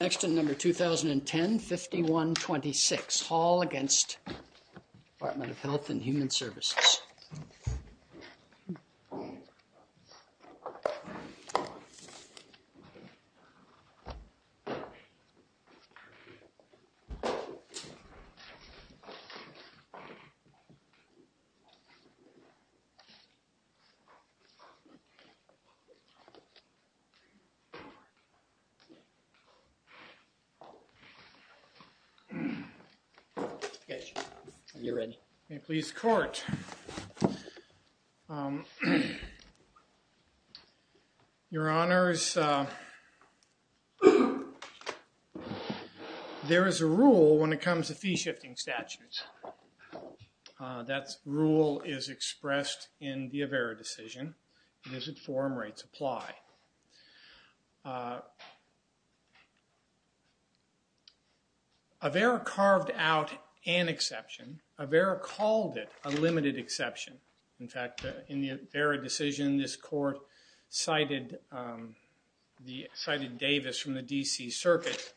Next in number 2010-5126, HALL v. Department of Health and Human Services. There is a rule when it comes to fee-shifting statutes. That rule is expressed in the AVERA decision. AVERA carved out an exception. AVERA called it a limited exception. In fact, in the AVERA decision, this court cited Davis from the D.C. Circuit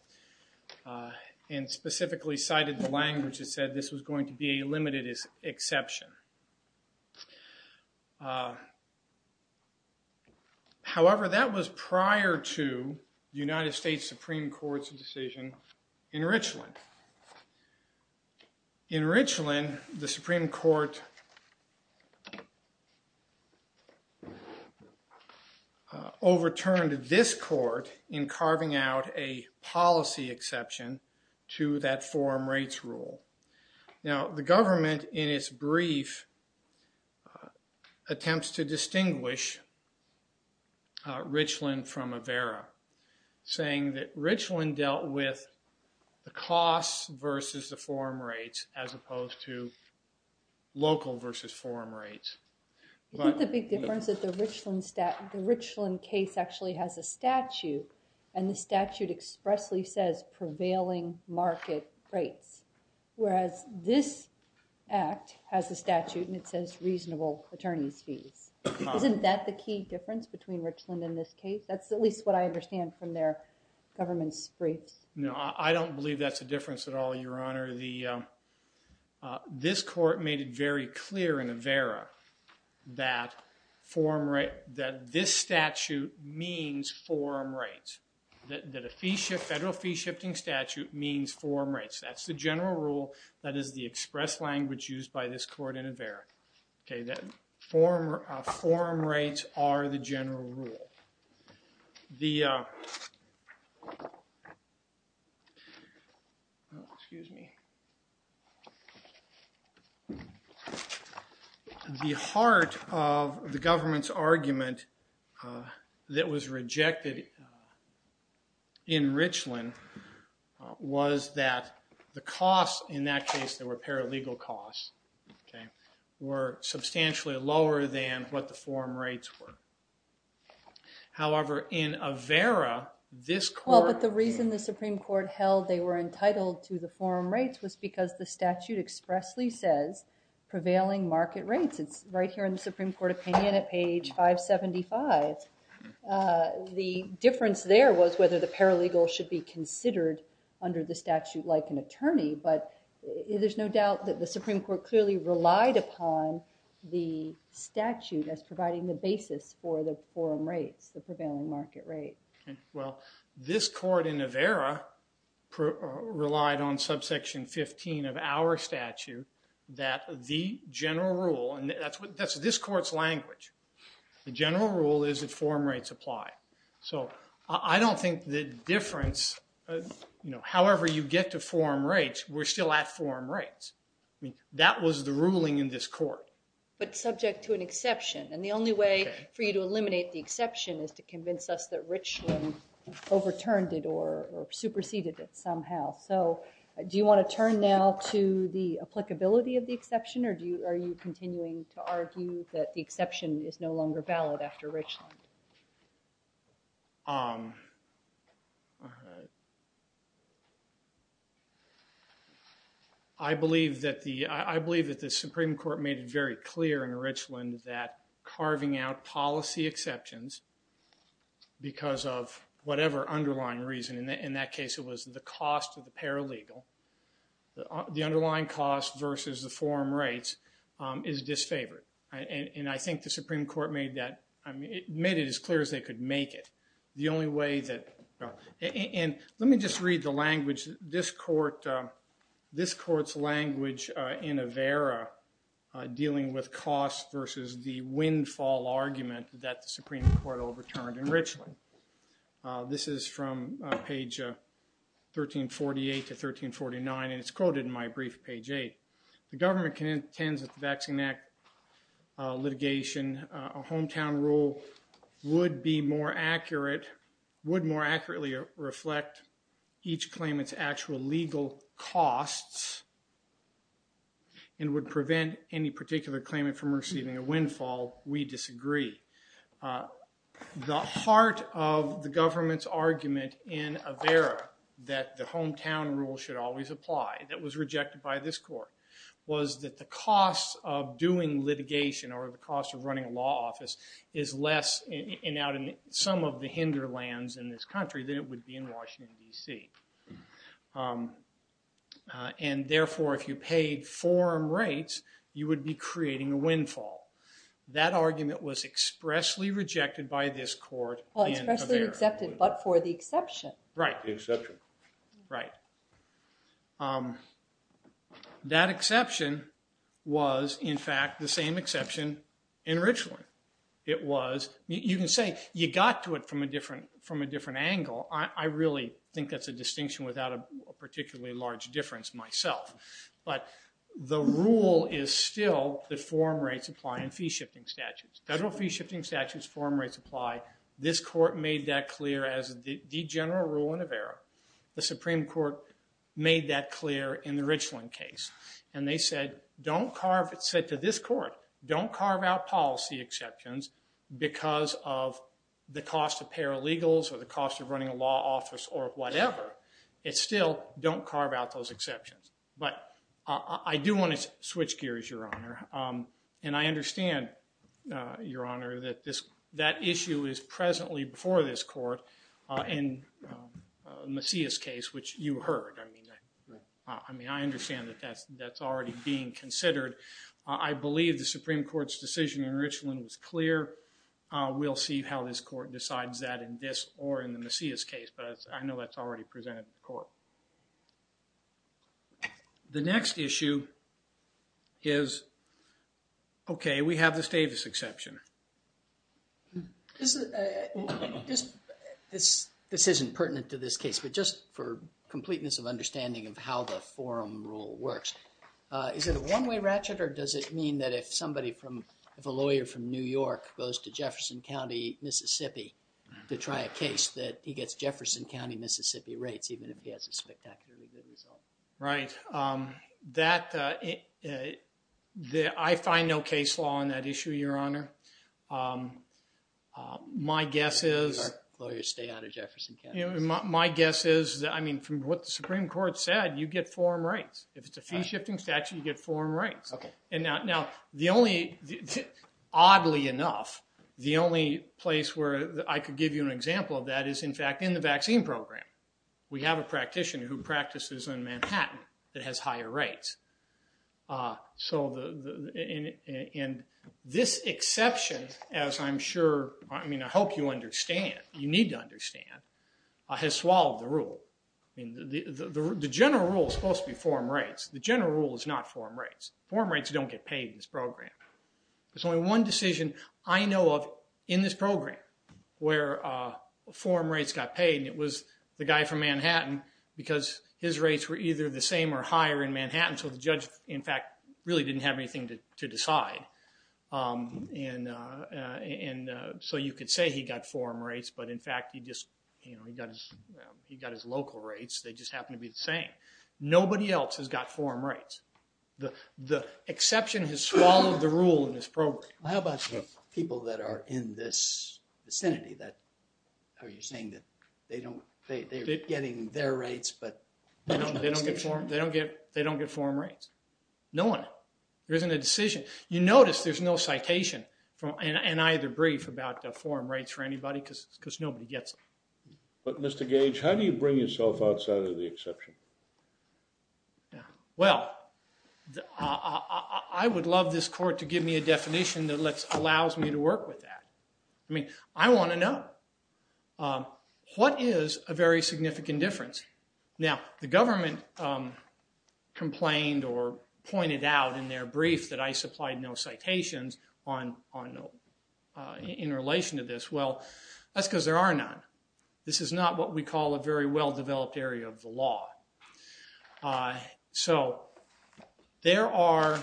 and specifically cited the language that said this was going to be a limited exception. However, that was prior to the United States Supreme Court's decision in Richland. In Richland, the Supreme Court overturned this court in carving out a policy exception to that forum rates rule. Now, the government, in its brief, attempts to distinguish Richland from AVERA, saying that Richland dealt with the costs versus the forum rates as opposed to local versus forum rates. Isn't the big difference that the Richland case actually has a statute, and the statute expressly says prevailing market rates, whereas this act has a statute and it says reasonable attorney's fees? Isn't that the key difference between Richland and this case? That's at least what I understand from their government's briefs. No, I don't believe that's a difference at all, Your Honor. This court made it very clear in AVERA that this statute means forum rates, that a federal fee-shifting statute means forum rates. That's the general rule that is the expressed language used by this court in AVERA, that forum rates are the general rule. The heart of the government's argument that was rejected in Richland was that the costs in that case, they were paralegal costs, were substantially lower than what the forum rates were. However, in AVERA, this court... Well, but the reason the Supreme Court held they were entitled to the forum rates was because the statute expressly says prevailing market rates. It's right here in the Supreme Court opinion at page 575. The difference there was whether the paralegal should be considered under the statute like an attorney, but there's no doubt that the Supreme Court clearly relied upon the statute as providing the basis for the forum rates, the prevailing market rate. Well, this court in AVERA relied on subsection 15 of our statute that the general rule, and that's this court's language, the general rule is that forum rates apply. I don't think the difference, however you get to forum rates, we're still at forum rates. That was the ruling in this court. But subject to an exception, and the only way for you to eliminate the exception is to convince us that Richland overturned it or superseded it somehow. Do you want to turn now to the applicability of the exception, or are you continuing to argue that the exception is no longer valid after Richland? All right. I believe that the Supreme Court made it very clear in Richland that carving out policy exceptions because of whatever underlying reason, in that case it was the cost of the paralegal, the underlying cost versus the forum rates, is disfavored. And I think the Supreme Court made it as clear as they could make it. And let me just read the language. This court's language in AVERA dealing with cost versus the windfall argument that the Supreme Court overturned in Richland. This is from page 1348 to 1349, and it's quoted in my brief, page 8. The government contends that the Vaccine Act litigation, a hometown rule, would be more accurate, would more accurately reflect each claimant's actual legal costs and would prevent any particular claimant from receiving a windfall. We disagree. The heart of the government's argument in AVERA that the hometown rule should always apply that was rejected by this court was that the cost of doing litigation or the cost of running a law office is less in some of the hinder lands in this country than it would be in Washington, D.C. And therefore, if you paid forum rates, you would be creating a windfall. That argument was expressly rejected by this court in AVERA. Well, expressly accepted, but for the exception. Right. The exception. Right. That exception was, in fact, the same exception in Richland. You can say you got to it from a different angle. I really think that's a distinction without a particularly large difference myself. But the rule is still that forum rates apply in fee-shifting statutes. Federal fee-shifting statutes, forum rates apply. The Supreme Court made that clear in the Richland case. And they said to this court, don't carve out policy exceptions because of the cost of paralegals or the cost of running a law office or whatever. It's still don't carve out those exceptions. But I do want to switch gears, Your Honor. And I understand, Your Honor, that that issue is presently before this court in Messiah's case, which you heard. I mean, I understand that that's already being considered. I believe the Supreme Court's decision in Richland was clear. We'll see how this court decides that in this or in the Messiah's case. But I know that's already presented to the court. The next issue is, okay, we have the Stavis exception. This isn't pertinent to this case. But just for completeness of understanding of how the forum rule works, is it a one-way ratchet or does it mean that if somebody from, if a lawyer from New York goes to Jefferson County, Mississippi, to try a case that he gets Jefferson County, Mississippi rates, even if he has a spectacularly good result? Right. That, I find no case law on that issue, Your Honor. My guess is. Lawyers stay out of Jefferson County. My guess is that, I mean, from what the Supreme Court said, you get foreign rates. If it's a fee-shifting statute, you get foreign rates. Okay. Now, oddly enough, the only place where I could give you an example of that is, in fact, in the vaccine program. We have a practitioner who practices in Manhattan that has higher rates. This exception, as I'm sure, I mean, I hope you understand, you need to understand, has swallowed the rule. The general rule is supposed to be foreign rates. The general rule is not foreign rates. Foreign rates don't get paid in this program. There's only one decision I know of in this program where foreign rates got paid and it was the guy from Manhattan because his rates were either the same or higher in Manhattan, so the judge, in fact, really didn't have anything to decide. And so you could say he got foreign rates, but, in fact, he just, you know, he got his local rates. They just happened to be the same. Nobody else has got foreign rates. The exception has swallowed the rule in this program. Well, how about the people that are in this vicinity? Are you saying that they're getting their rates but they don't get foreign rates? No one. There isn't a decision. You notice there's no citation in either brief about foreign rates for anybody because nobody gets them. But, Mr. Gage, how do you bring yourself outside of the exception? Well, I would love this court to give me a definition that allows me to work with that. I mean, I want to know what is a very significant difference. Now, the government complained or pointed out in their brief that I supplied no citations in relation to this. Well, that's because there are none. This is not what we call a very well-developed area of the law. So there are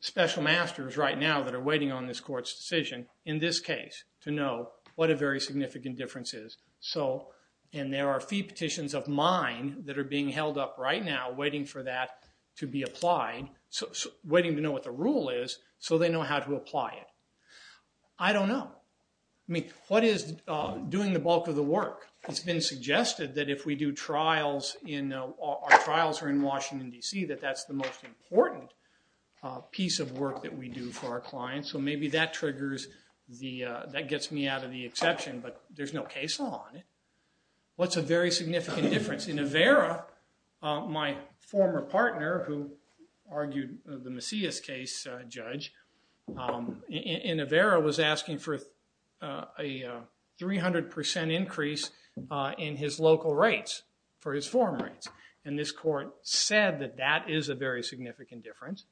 special masters right now that are waiting on this court's decision, in this case, to know what a very significant difference is. And there are fee petitions of mine that are being held up right now waiting for that to be applied, waiting to know what the rule is so they know how to apply it. I don't know. I mean, what is doing the bulk of the work? It's been suggested that if our trials are in Washington, D.C., that that's the most important piece of work that we do for our clients. So maybe that gets me out of the exception, but there's no case law on it. What's a very significant difference? In Avera, my former partner, who argued the Macias case, a judge, in Avera was asking for a 300% increase in his local rates for his foreign rates. And this court said that that is a very significant difference.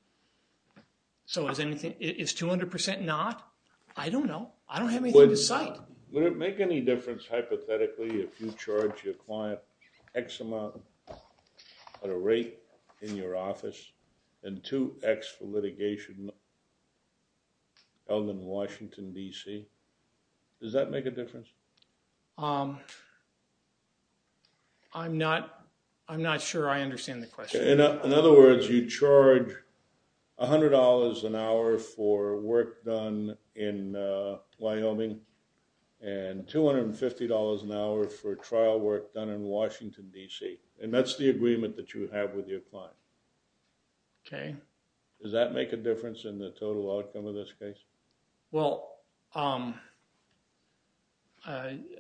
So is 200% not? I don't know. I don't have anything to cite. Would it make any difference hypothetically if you charge your client x amount at a rate in your office and 2x for litigation held in Washington, D.C.? Does that make a difference? I'm not sure I understand the question. In other words, you charge $100 an hour for work done in Wyoming and $250 an hour for trial work done in Washington, D.C., and that's the agreement that you have with your client. Okay. Does that make a difference in the total outcome of this case? Well,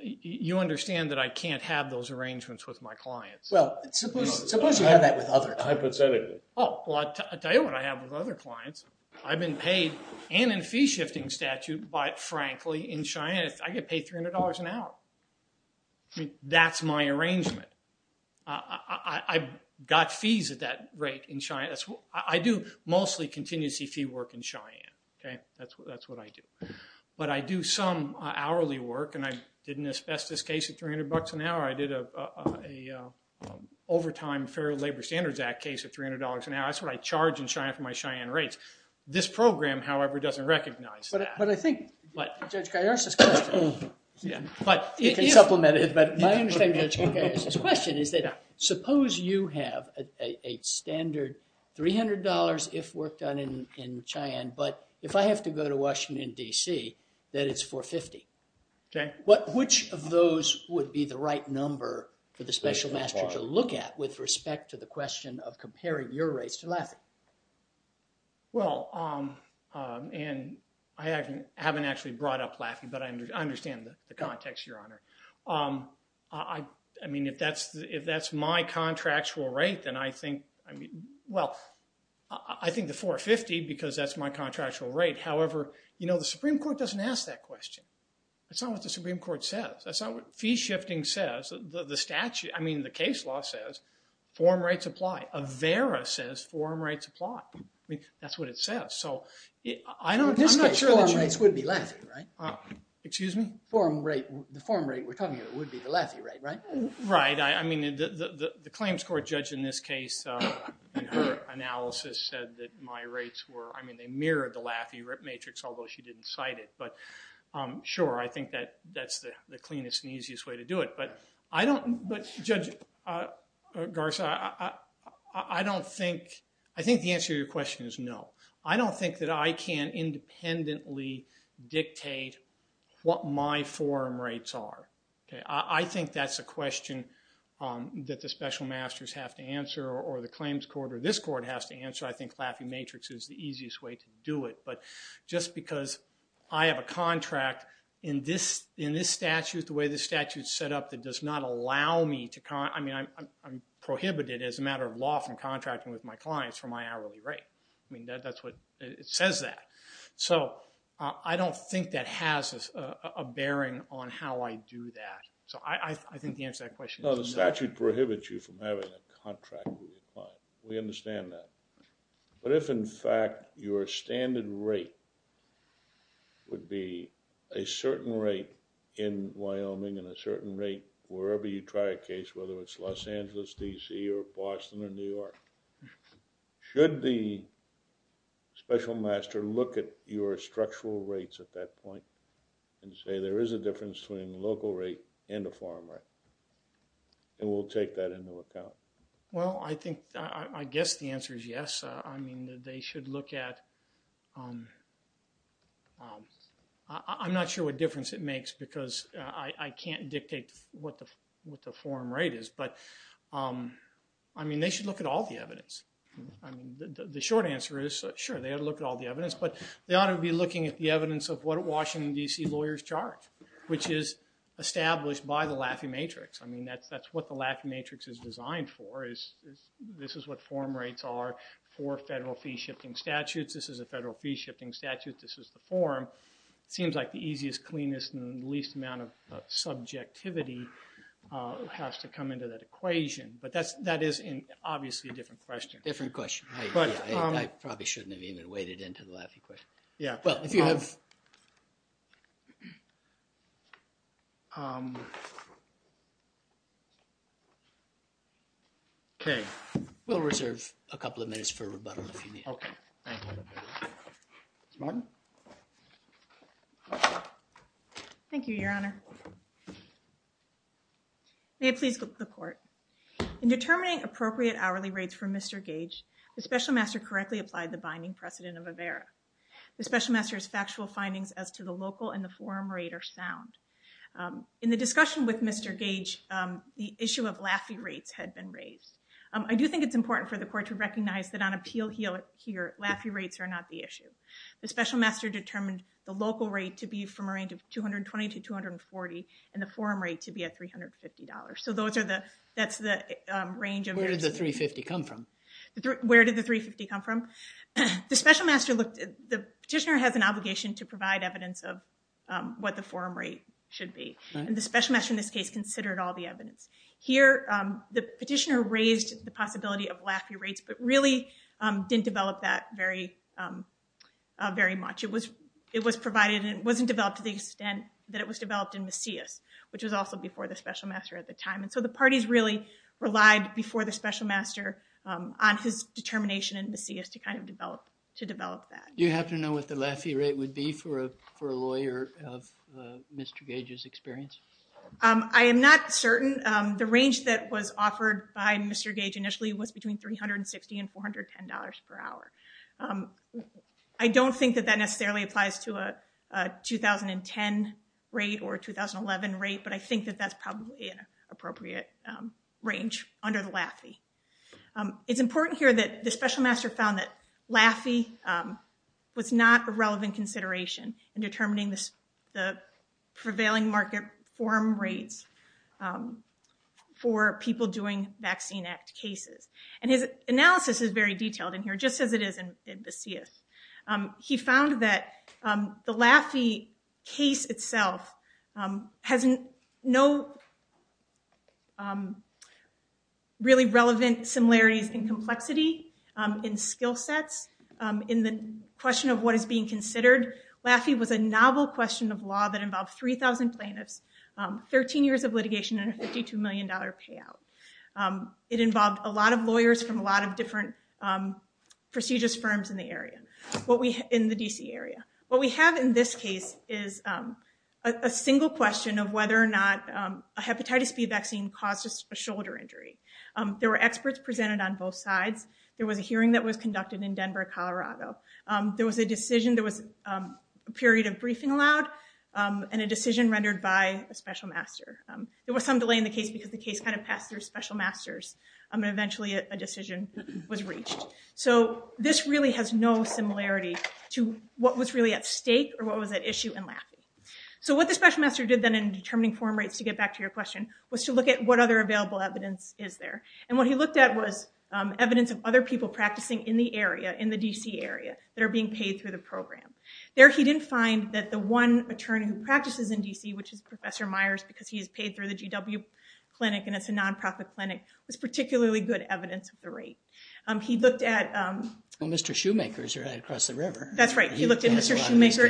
you understand that I can't have those arrangements with my clients. Well, suppose you have that with others. Hypothetically. Oh, well, I'll tell you what I have with other clients. I've been paid and in a fee-shifting statute, but, frankly, in Cheyenne, I get paid $300 an hour. I mean, that's my arrangement. I've got fees at that rate in Cheyenne. I do mostly contingency fee work in Cheyenne. Okay. That's what I do. But I do some hourly work, and I did an asbestos case at $300 an hour. I did an overtime Fair Labor Standards Act case at $300 an hour. That's what I charge in Cheyenne for my Cheyenne rates. This program, however, doesn't recognize that. But I think Judge Kiyosa's question. You can supplement it, but my understanding of Judge Kiyosa's question is that suppose you have a standard $300 if work done in Cheyenne, but if I have to go to Washington, D.C., that it's $450. Okay. Which of those would be the right number for the special master to look at with respect to the question of comparing your rates to Laffey? Well, and I haven't actually brought up Laffey, but I understand the context, Your Honor. I mean, if that's my contractual rate, then I think, well, I think the $450 because that's my contractual rate. However, you know, the Supreme Court doesn't ask that question. That's not what the Supreme Court says. That's not what fee shifting says. I mean, the case law says form rates apply. AVERA says form rates apply. I mean, that's what it says. I'm not sure. The form rates would be Laffey, right? Excuse me? The form rate we're talking about would be the Laffey rate, right? Right. I mean, the claims court judge in this case, in her analysis, said that my rates were, I mean, they mirrored the Laffey matrix, although she didn't cite it. But, sure, I think that's the cleanest and easiest way to do it. But, Judge Garza, I think the answer to your question is no. I don't think that I can independently dictate what my form rates are. I think that's a question that the special masters have to answer or the claims court or this court has to answer. I think Laffey matrix is the easiest way to do it. But just because I have a contract in this statute, the way this statute is set up, it does not allow me to, I mean, I'm prohibited as a matter of law from contracting with my clients for my hourly rate. I mean, that's what it says that. So I don't think that has a bearing on how I do that. So I think the answer to that question is no. No, the statute prohibits you from having a contract with your client. We understand that. But if, in fact, your standard rate would be a certain rate in Wyoming and a certain rate wherever you try a case, whether it's Los Angeles, D.C., or Boston, or New York, should the special master look at your structural rates at that point and say there is a difference between a local rate and a foreign rate? And we'll take that into account. Well, I think, I guess the answer is yes. I mean, they should look at, I'm not sure what difference it makes because I can't dictate what the foreign rate is. But, I mean, they should look at all the evidence. The short answer is, sure, they ought to look at all the evidence. But they ought to be looking at the evidence of what Washington, D.C. lawyers charge, which is established by the Laffey Matrix. I mean, that's what the Laffey Matrix is designed for. This is what foreign rates are for federal fee-shifting statutes. This is a federal fee-shifting statute. This is the form. It seems like the easiest, cleanest, and the least amount of subjectivity has to come into that equation. But that is, obviously, a different question. Different question. I probably shouldn't have even waded into the Laffey question. Yeah. Well, if you have... Okay. We'll reserve a couple of minutes for rebuttal if you need. Okay. Thank you. Ms. Martin? Thank you, Your Honor. May it please the Court. In determining appropriate hourly rates for Mr. Gage, the Special Master correctly applied the binding precedent of Avera. The Special Master's factual findings as to the local and the foreign rate are sound. In the discussion with Mr. Gage, the issue of Laffey rates had been raised. I do think it's important for the Court to recognize that on appeal here, Laffey rates are not the issue. The Special Master determined the local rate to be from a range of $220 to $240 and the foreign rate to be at $350. So that's the range of... Where did the $350 come from? Where did the $350 come from? The Petitioner has an obligation to provide evidence of what the foreign rate should be. And the Special Master in this case considered all the evidence. Here, the Petitioner raised the possibility of Laffey rates, but really didn't develop that very much. It was provided and it wasn't developed to the extent that it was developed in Macias, which was also before the Special Master at the time. And so the parties really relied before the Special Master on his determination in Macias to kind of develop that. Do you have to know what the Laffey rate would be for a lawyer of Mr. Gage's experience? I am not certain. The range that was offered by Mr. Gage initially was between $360 and $410 per hour. I don't think that that necessarily applies to a 2010 rate or a 2011 rate, but I think that that's probably an appropriate range under the Laffey. It's important here that the Special Master found that Laffey was not a relevant consideration in determining the prevailing market forum rates for people doing Vaccine Act cases. And his analysis is very detailed in here, just as it is in Macias. He found that the Laffey case itself has no really relevant similarities in complexity, in skill sets, in the question of what is being considered. Laffey was a novel question of law that involved 3,000 plaintiffs, 13 years of litigation, and a $52 million payout. It involved a lot of lawyers from a lot of different prestigious firms in the area, in the D.C. area. What we have in this case is a single question of whether or not a hepatitis B vaccine caused a shoulder injury. There were experts presented on both sides. There was a hearing that was conducted in Denver, Colorado. There was a decision, there was a period of briefing allowed, and a decision rendered by a Special Master. There was some delay in the case because the case kind of passed through Special Masters, and eventually a decision was reached. So this really has no similarity to what was really at stake or what was at issue in Laffey. So what the Special Master did then in determining forum rates, to get back to your question, was to look at what other available evidence is there. And what he looked at was evidence of other people practicing in the area, in the D.C. area, that are being paid through the program. There he didn't find that the one attorney who practices in D.C., which is Professor Myers, because he is paid through the GW Clinic and it's a nonprofit clinic, was particularly good evidence of the rate. He looked at Mr. Shoemaker's right across the river. That's right. He looked at Mr. Shoemaker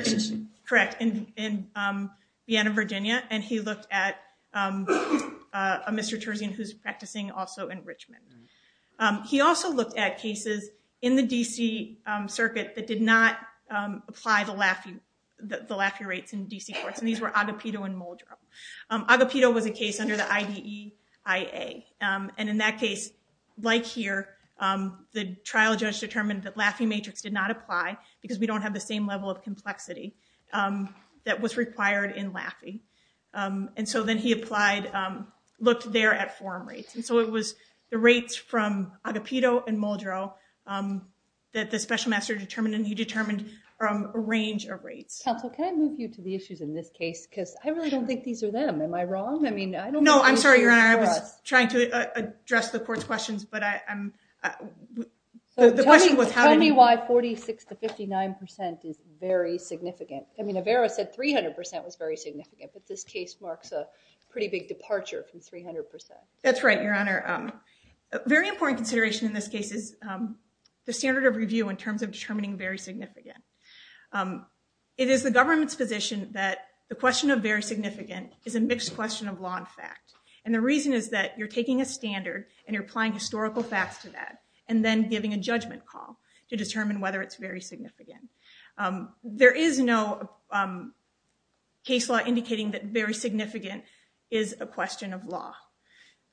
in Vienna, Virginia, and he looked at a Mr. Terzian who's practicing also in Richmond. He also looked at cases in the D.C. circuit that did not apply the Laffey rates in D.C. courts, and these were Agapito and Muldrow. Agapito was a case under the IDEIA, and in that case, like here, the trial judge determined that Laffey matrix did not apply because we don't have the same level of complexity that was required in Laffey. And so then he applied, looked there at forum rates. And so it was the rates from Agapito and Muldrow that the special master determined, and he determined a range of rates. Counsel, can I move you to the issues in this case? Because I really don't think these are them. Am I wrong? No, I'm sorry, Your Honor. I was trying to address the court's questions, but I'm – Tell me why 46% to 59% is very significant. I mean, Avera said 300% was very significant, but this case marks a pretty big departure from 300%. That's right, Your Honor. A very important consideration in this case is the standard of review in terms of determining very significant. It is the government's position that the question of very significant is a mixed question of law and fact. And the reason is that you're taking a standard and you're applying historical facts to that and then giving a judgment call to determine whether it's very significant. There is no case law indicating that very significant is a question of law.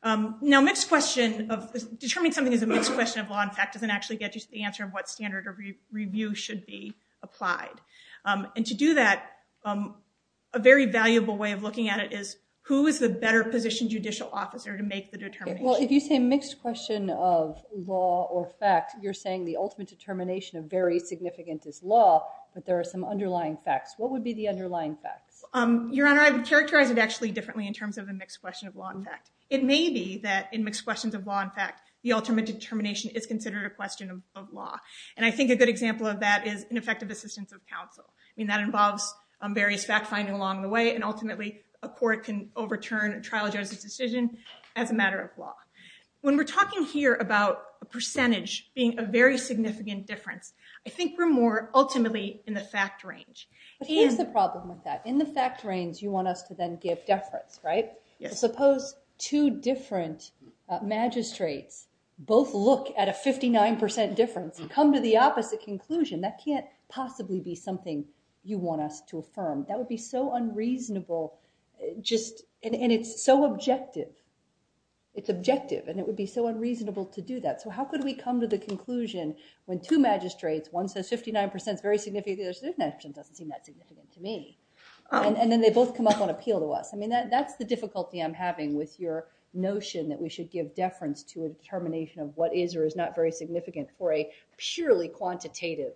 Now, determined something as a mixed question of law and fact doesn't actually get you to the answer of what standard of review should be applied. And to do that, a very valuable way of looking at it is, who is the better positioned judicial officer to make the determination? Well, if you say mixed question of law or fact, you're saying the ultimate determination of very significant is law, but there are some underlying facts. What would be the underlying facts? Your Honor, I would characterize it actually differently in terms of the mixed question of law and fact. It may be that in mixed questions of law and fact, the ultimate determination is considered a question of law. And I think a good example of that is ineffective assistance of counsel. I mean, that involves various fact-finding along the way, and ultimately, a court can overturn a trial judge's decision as a matter of law. When we're talking here about a percentage being a very significant difference, I think we're more ultimately in the fact range. But here's the problem with that. In the fact range, you want us to then give deference, right? Yes. Suppose two different magistrates both look at a 59% difference and come to the opposite conclusion. That can't possibly be something you want us to affirm. That would be so unreasonable, and it's so objective. It's objective, and it would be so unreasonable to do that. So how could we come to the conclusion when two magistrates, one says 59% is very significant, the other says 59% doesn't seem that significant to me. And then they both come up on appeal to us. I mean, that's the difficulty I'm having with your notion that we should give deference to a determination of what is or is not very significant for a purely quantitative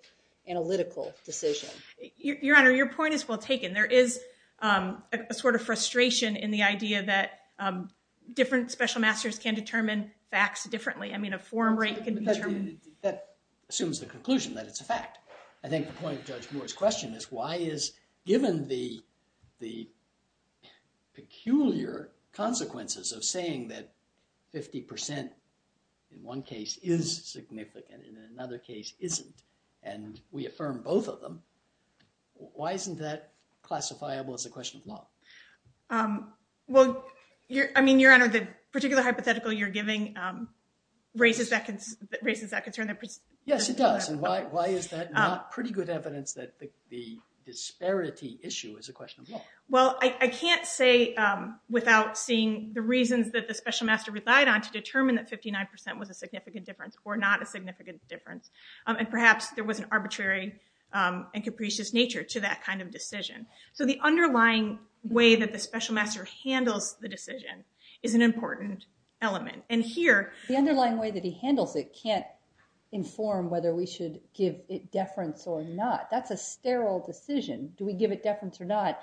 analytical decision. Your Honor, your point is well taken. There is a sort of frustration in the idea that different special masters can determine facts differently. I mean, a forum rate can be determined. That assumes the conclusion that it's a fact. I think the point of Judge Moore's question is why is given the peculiar consequences of saying that 50% in one case is significant and in another case isn't, and we affirm both of them. Why isn't that classifiable as a question of law? Well, I mean, Your Honor, the particular hypothetical you're giving raises that concern. Yes, it does. And why is that not pretty good evidence that the disparity issue is a question of law? Well, I can't say without seeing the reasons that the special master relied on to determine that 59% was a significant difference or not a significant difference. And perhaps there was an arbitrary and capricious nature to that kind of decision. So the underlying way that the special master handles the decision is an important element. The underlying way that he handles it can't inform whether we should give it deference or not. That's a sterile decision. Do we give it deference or not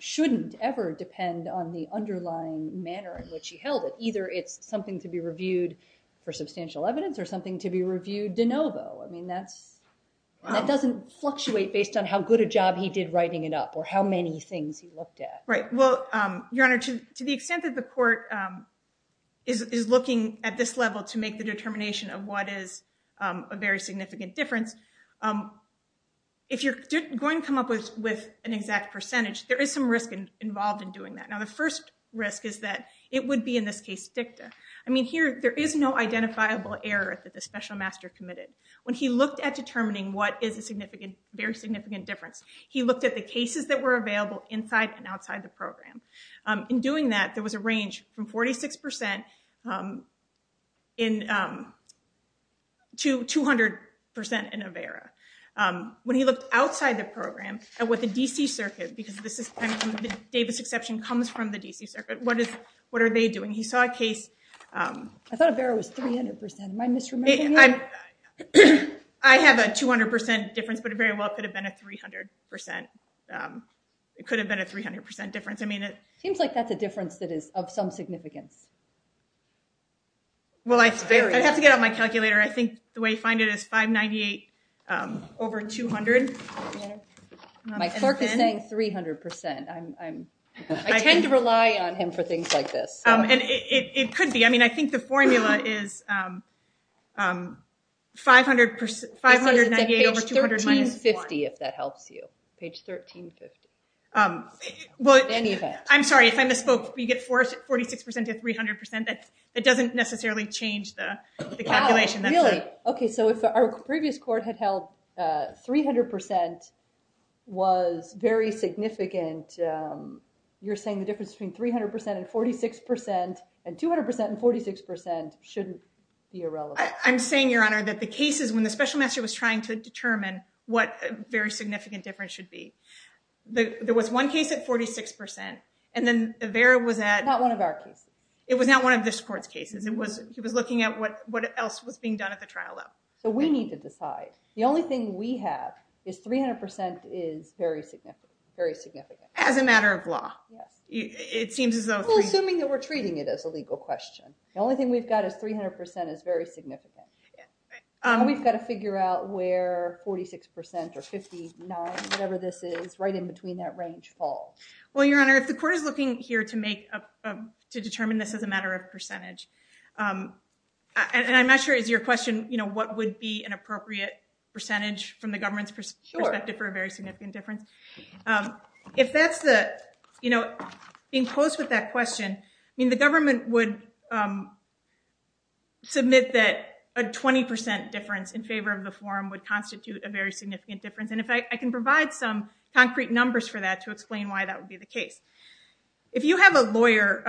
shouldn't ever depend on the underlying manner in which he held it. Either it's something to be reviewed for substantial evidence or something to be reviewed de novo. I mean, that doesn't fluctuate based on how good a job he did writing it up or how many things he looked at. Right. Well, Your Honor, to the extent that the court is looking at this level to make the determination of what is a very significant difference, if you're going to come up with an exact percentage, there is some risk involved in doing that. Now, the first risk is that it would be, in this case, dicta. I mean, there is no identifiable error that the special master committed. When he looked at determining what is a very significant difference, he looked at the cases that were available inside and outside the program. In doing that, there was a range from 46% to 200% in AVERA. When he looked outside the program and with the D.C. Circuit, because the Davis exception comes from the D.C. Circuit, what are they doing? He saw a case. I thought AVERA was 300%. Am I misremembering you? I have a 200% difference, but it very well could have been a 300%. It could have been a 300% difference. It seems like that's a difference that is of some significance. Well, I'd have to get out my calculator. I think the way I find it is 598 over 200. My clerk is saying 300%. I tend to rely on him for things like this. It could be. I mean, I think the formula is 598 over 200 minus 1. It says it's at page 1350, if that helps you. Page 1350. I'm sorry if I misspoke, but you get 46% to 300%. That doesn't necessarily change the calculation. Really? Okay, so if our previous court had held 300% was very significant, you're saying the difference between 300% and 46% and 200% and 46% shouldn't be irrelevant. I'm saying, Your Honor, that the cases when the special master was trying to determine what a very significant difference should be, there was one case at 46%, and then AVERA was at— It was not one of this court's cases. He was looking at what else was being done at the trial level. So we need to decide. The only thing we have is 300% is very significant. As a matter of law? Yes. It seems as though— We're assuming that we're treating it as a legal question. The only thing we've got is 300% is very significant. We've got to figure out where 46% or 59%, whatever this is, right in between that range falls. Well, Your Honor, if the court is looking here to determine this as a matter of percentage, and I'm not sure, is your question, what would be an appropriate percentage from the government's perspective for a very significant difference? If that's the— Being close with that question, the government would submit that a 20% difference in favor of the form would constitute a very significant difference. In fact, I can provide some concrete numbers for that to explain why that would be the case. If you have a lawyer,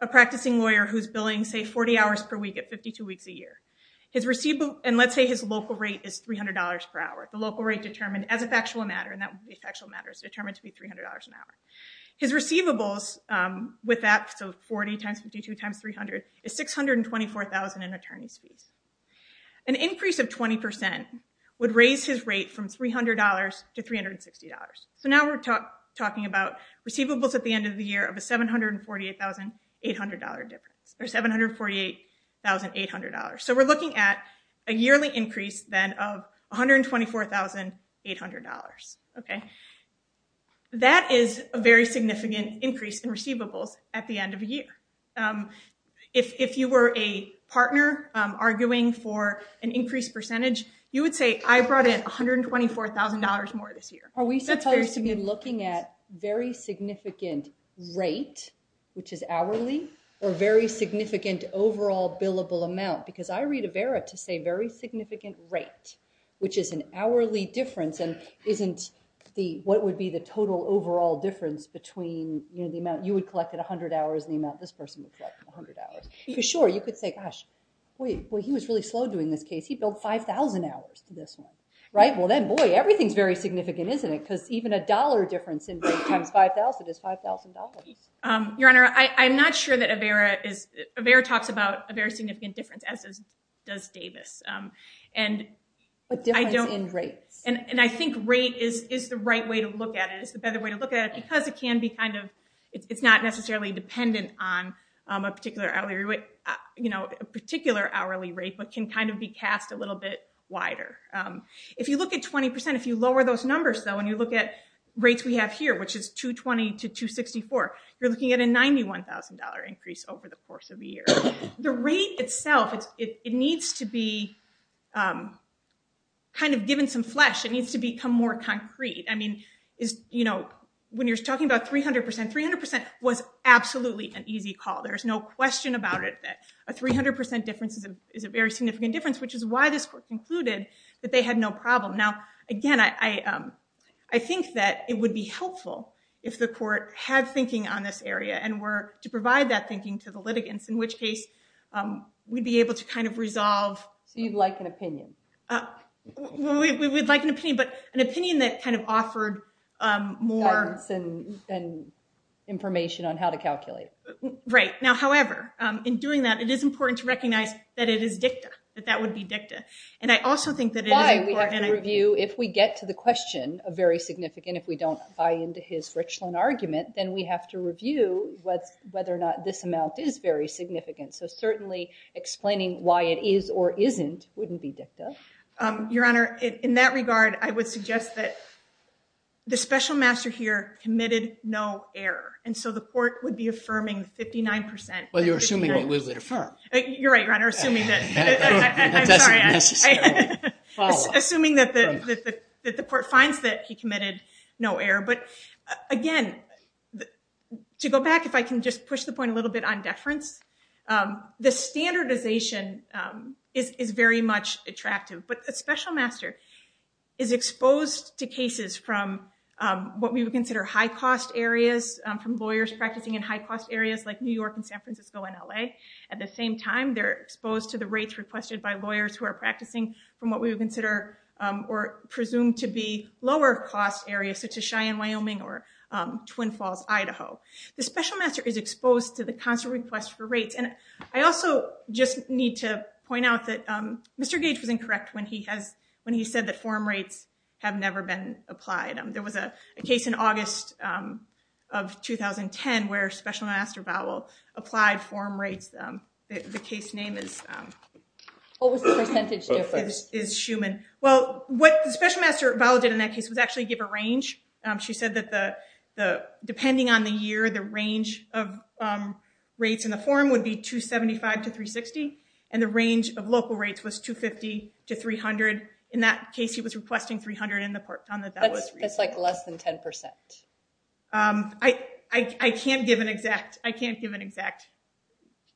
a practicing lawyer, who's billing, say, 40 hours per week at 52 weeks a year, and let's say his local rate is $300 per hour, the local rate determined as a factual matter, and that would be factual matters, determined to be $300 an hour. His receivables with that, so 40 times 52 times 300, is $624,000 in attorney's fees. An increase of 20% would raise his rate from $300 to $360. So now we're talking about receivables at the end of the year of a $748,800 difference, or $748,800. So we're looking at a yearly increase, then, of $124,800. That is a very significant increase in receivables at the end of a year. If you were a partner arguing for an increased percentage, you would say, I brought in $124,000 more this year. Are we supposed to be looking at very significant rate, which is hourly, or very significant overall billable amount? Because I read Avera to say very significant rate, which is an hourly difference and isn't what would be the total overall difference between the amount you would collect at 100 hours and the amount this person would collect at 100 hours. Because, sure, you could say, gosh, boy, he was really slow doing this case. He billed 5,000 hours to this one. Right? Well, then, boy, everything's very significant, isn't it? Because even a dollar difference in rate times 5,000 is $5,000. Your Honor, I'm not sure that Avera is – Avera talks about a very significant difference, as does Davis. But difference in rates. And I think rate is the right way to look at it, is the better way to look at it, because it can be kind of – it's not necessarily dependent on a particular hourly rate, but can kind of be cast a little bit wider. If you look at 20%, if you lower those numbers, though, and you look at rates we have here, which is 220 to 264, you're looking at a $91,000 increase over the course of a year. The rate itself, it needs to be kind of given some flesh. It needs to become more concrete. I mean, when you're talking about 300%, 300% was absolutely an easy call. There's no question about it that a 300% difference is a very significant difference, which is why this court concluded that they had no problem. Now, again, I think that it would be helpful if the court had thinking on this area and were to provide that thinking to the litigants, in which case we'd be able to kind of resolve. So you'd like an opinion? We would like an opinion, but an opinion that kind of offered more – Guidance and information on how to calculate. Right. Now, however, in doing that, it is important to recognize that it is dicta, that that would be dicta. And I also think that – Why we have to review, if we get to the question of very significant, if we don't buy into his Richland argument, then we have to review whether or not this amount is very significant. So certainly explaining why it is or isn't wouldn't be dicta. Your Honor, in that regard, I would suggest that the special master here committed no error. And so the court would be affirming 59%. Well, you're assuming that we would affirm. You're right, Your Honor, assuming that – That doesn't necessarily follow. Assuming that the court finds that he committed no error. But, again, to go back, if I can just push the point a little bit on deference, the standardization is very much attractive. But a special master is exposed to cases from what we would consider high-cost areas, from lawyers practicing in high-cost areas like New York and San Francisco and L.A. At the same time, they're exposed to the rates requested by lawyers who are practicing from what we would consider or presume to be lower-cost areas, such as Cheyenne, Wyoming, or Twin Falls, Idaho. The special master is exposed to the constant request for rates. And I also just need to point out that Mr. Gage was incorrect when he said that form rates have never been applied. There was a case in August of 2010 where special master Vowell applied form rates. The case name is – What was the percentage difference? Is Schumann. Well, what special master Vowell did in that case was actually give a range. She said that depending on the year, the range of rates in the form would be 275 to 360, and the range of local rates was 250 to 300. In that case, he was requesting 300. That's, like, less than 10%. I can't give an exact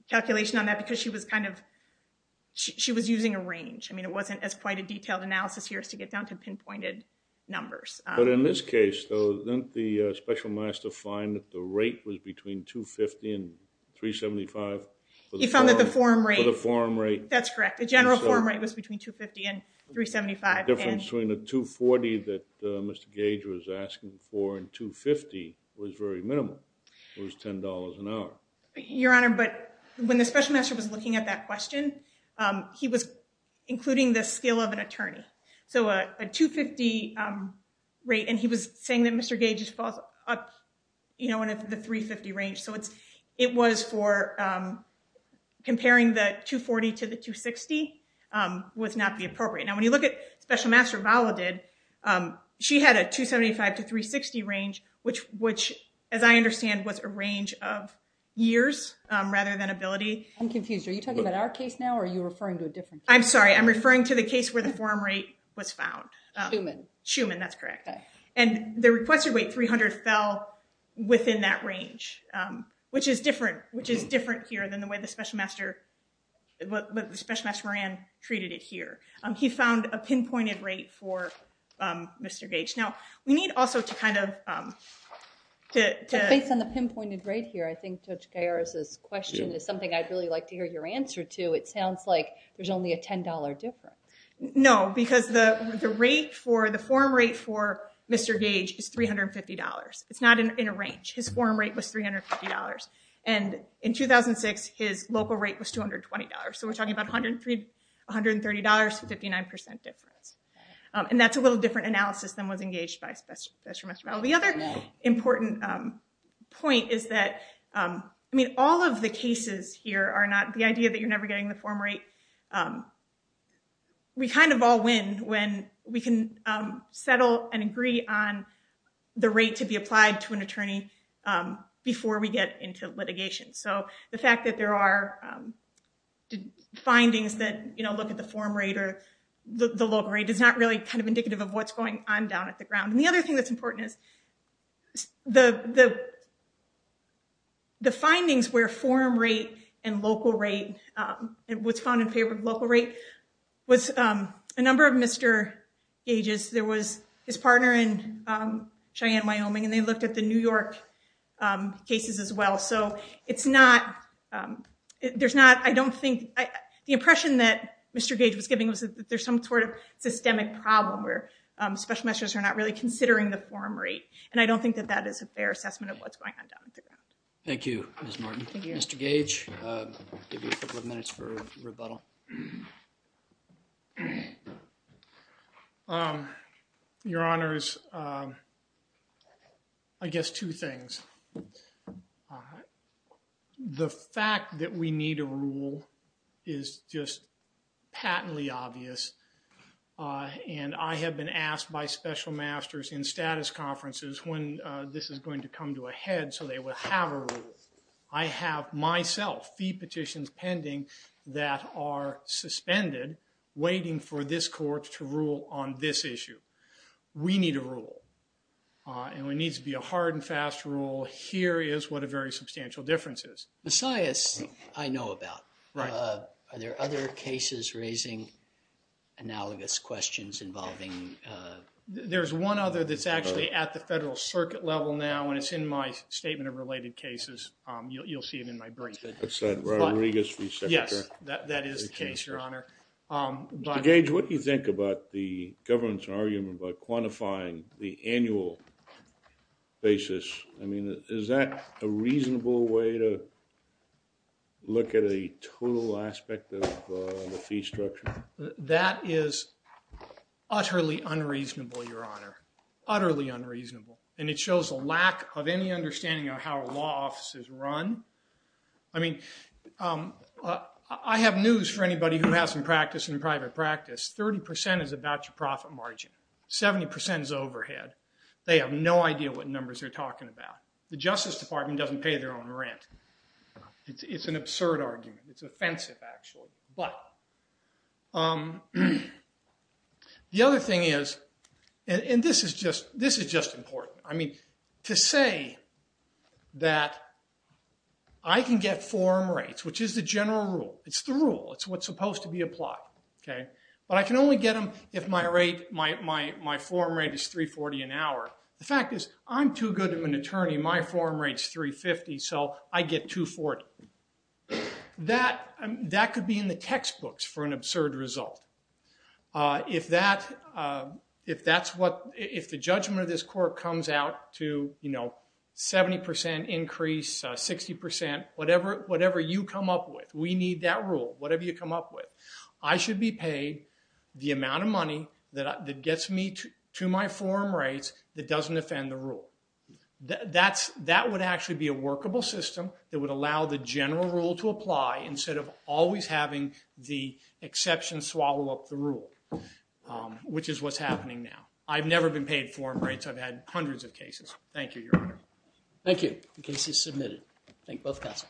calculation on that because she was kind of – she was using a range. I mean, it wasn't quite a detailed analysis here as to get down to pinpointed numbers. But in this case, though, didn't the special master find that the rate was between 250 and 375? He found that the form rate – That's correct. The general form rate was between 250 and 375. The difference between a 240 that Mr. Gage was asking for and 250 was very minimal. It was $10 an hour. Your Honor, but when the special master was looking at that question, he was including the skill of an attorney. So a 250 rate, and he was saying that Mr. Gage just falls up, you know, in the 350 range. So it was for comparing the 240 to the 260 was not the appropriate. Now, when you look at special master Vala did, she had a 275 to 360 range, which, as I understand, was a range of years rather than ability. I'm confused. Are you talking about our case now, or are you referring to a different case? I'm sorry. I'm referring to the case where the form rate was found. Schuman. Schuman, that's correct. And the requested weight 300 fell within that range, which is different, which is different here than the way the special master, the special master Moran treated it here. He found a pinpointed rate for Mr. Gage. Now, we need also to kind of, to. Based on the pinpointed rate here, I think Judge Garris' question is something I'd really like to hear your answer to. It sounds like there's only a $10 difference. No, because the rate for the form rate for Mr. Gage is $350. It's not in a range. His form rate was $350. And in 2006, his local rate was $220. So we're talking about $130 to 59% difference. And that's a little different analysis than was engaged by special master Vala. The other important point is that, I mean, all of the cases here are not, the idea that you're never getting the form rate. We kind of all win when we can settle and agree on the rate to be applied to an attorney before we get into litigation. So the fact that there are findings that, you know, look at the form rate or the local rate is not really kind of indicative of what's going on down at the ground. And the other thing that's important is the, the findings where form rate and local rate was found in favor of local rate was a number of Mr. Gages. There was his partner in Cheyenne, Wyoming, and they looked at the New York cases as well. So it's not, there's not, I don't think, the impression that Mr. Gage was giving was that there's some sort of systemic problem where special measures are not really considering the form rate. And I don't think that that is a fair assessment of what's going on down at the ground. Thank you, Ms. Martin. Thank you. Mr. Gage, I'll give you a couple of minutes for rebuttal. Your Honors, I guess two things. The fact that we need a rule is just patently obvious. And I have been asked by special masters in status conferences when this is going to come to a head so they will have a rule. I have, myself, fee petitions pending that are suspended waiting for this court to rule on this issue. We need a rule. And when it needs to be a hard and fast rule, here is what a very substantial difference is. I know about. Are there other cases raising analogous questions involving? There's one other that's actually at the federal circuit level now and it's in my statement of related cases. You'll see it in my brief. Yes, that is the case, Your Honor. Mr. Gage, what do you think about the government's argument about quantifying the annual basis? I mean, is that a reasonable way to look at a total aspect of the fee structure? That is utterly unreasonable, Your Honor. Utterly unreasonable. And it shows a lack of any understanding of how law offices run. I mean, I have news for anybody who has some practice in private practice. 30% is about your profit margin. 70% is overhead. They have no idea what numbers they're talking about. The Justice Department doesn't pay their own rent. It's an absurd argument. It's offensive, actually. But the other thing is, and this is just important. I mean, to say that I can get form rates, which is the general rule. It's the rule. It's what's supposed to be applied. But I can only get them if my form rate is $3.40 an hour. The fact is, I'm too good of an attorney. My form rate is $3.50, so I get $2.40. That could be in the textbooks for an absurd result. If the judgment of this court comes out to 70% increase, 60%, whatever you come up with. We need that rule, whatever you come up with. I should be paid the amount of money that gets me to my form rates that doesn't offend the rule. That would actually be a workable system that would allow the general rule to apply instead of always having the exception swallow up the rule, which is what's happening now. I've never been paid form rates. I've had hundreds of cases. Thank you, Your Honor. Thank you. The case is submitted. Thank both counsel.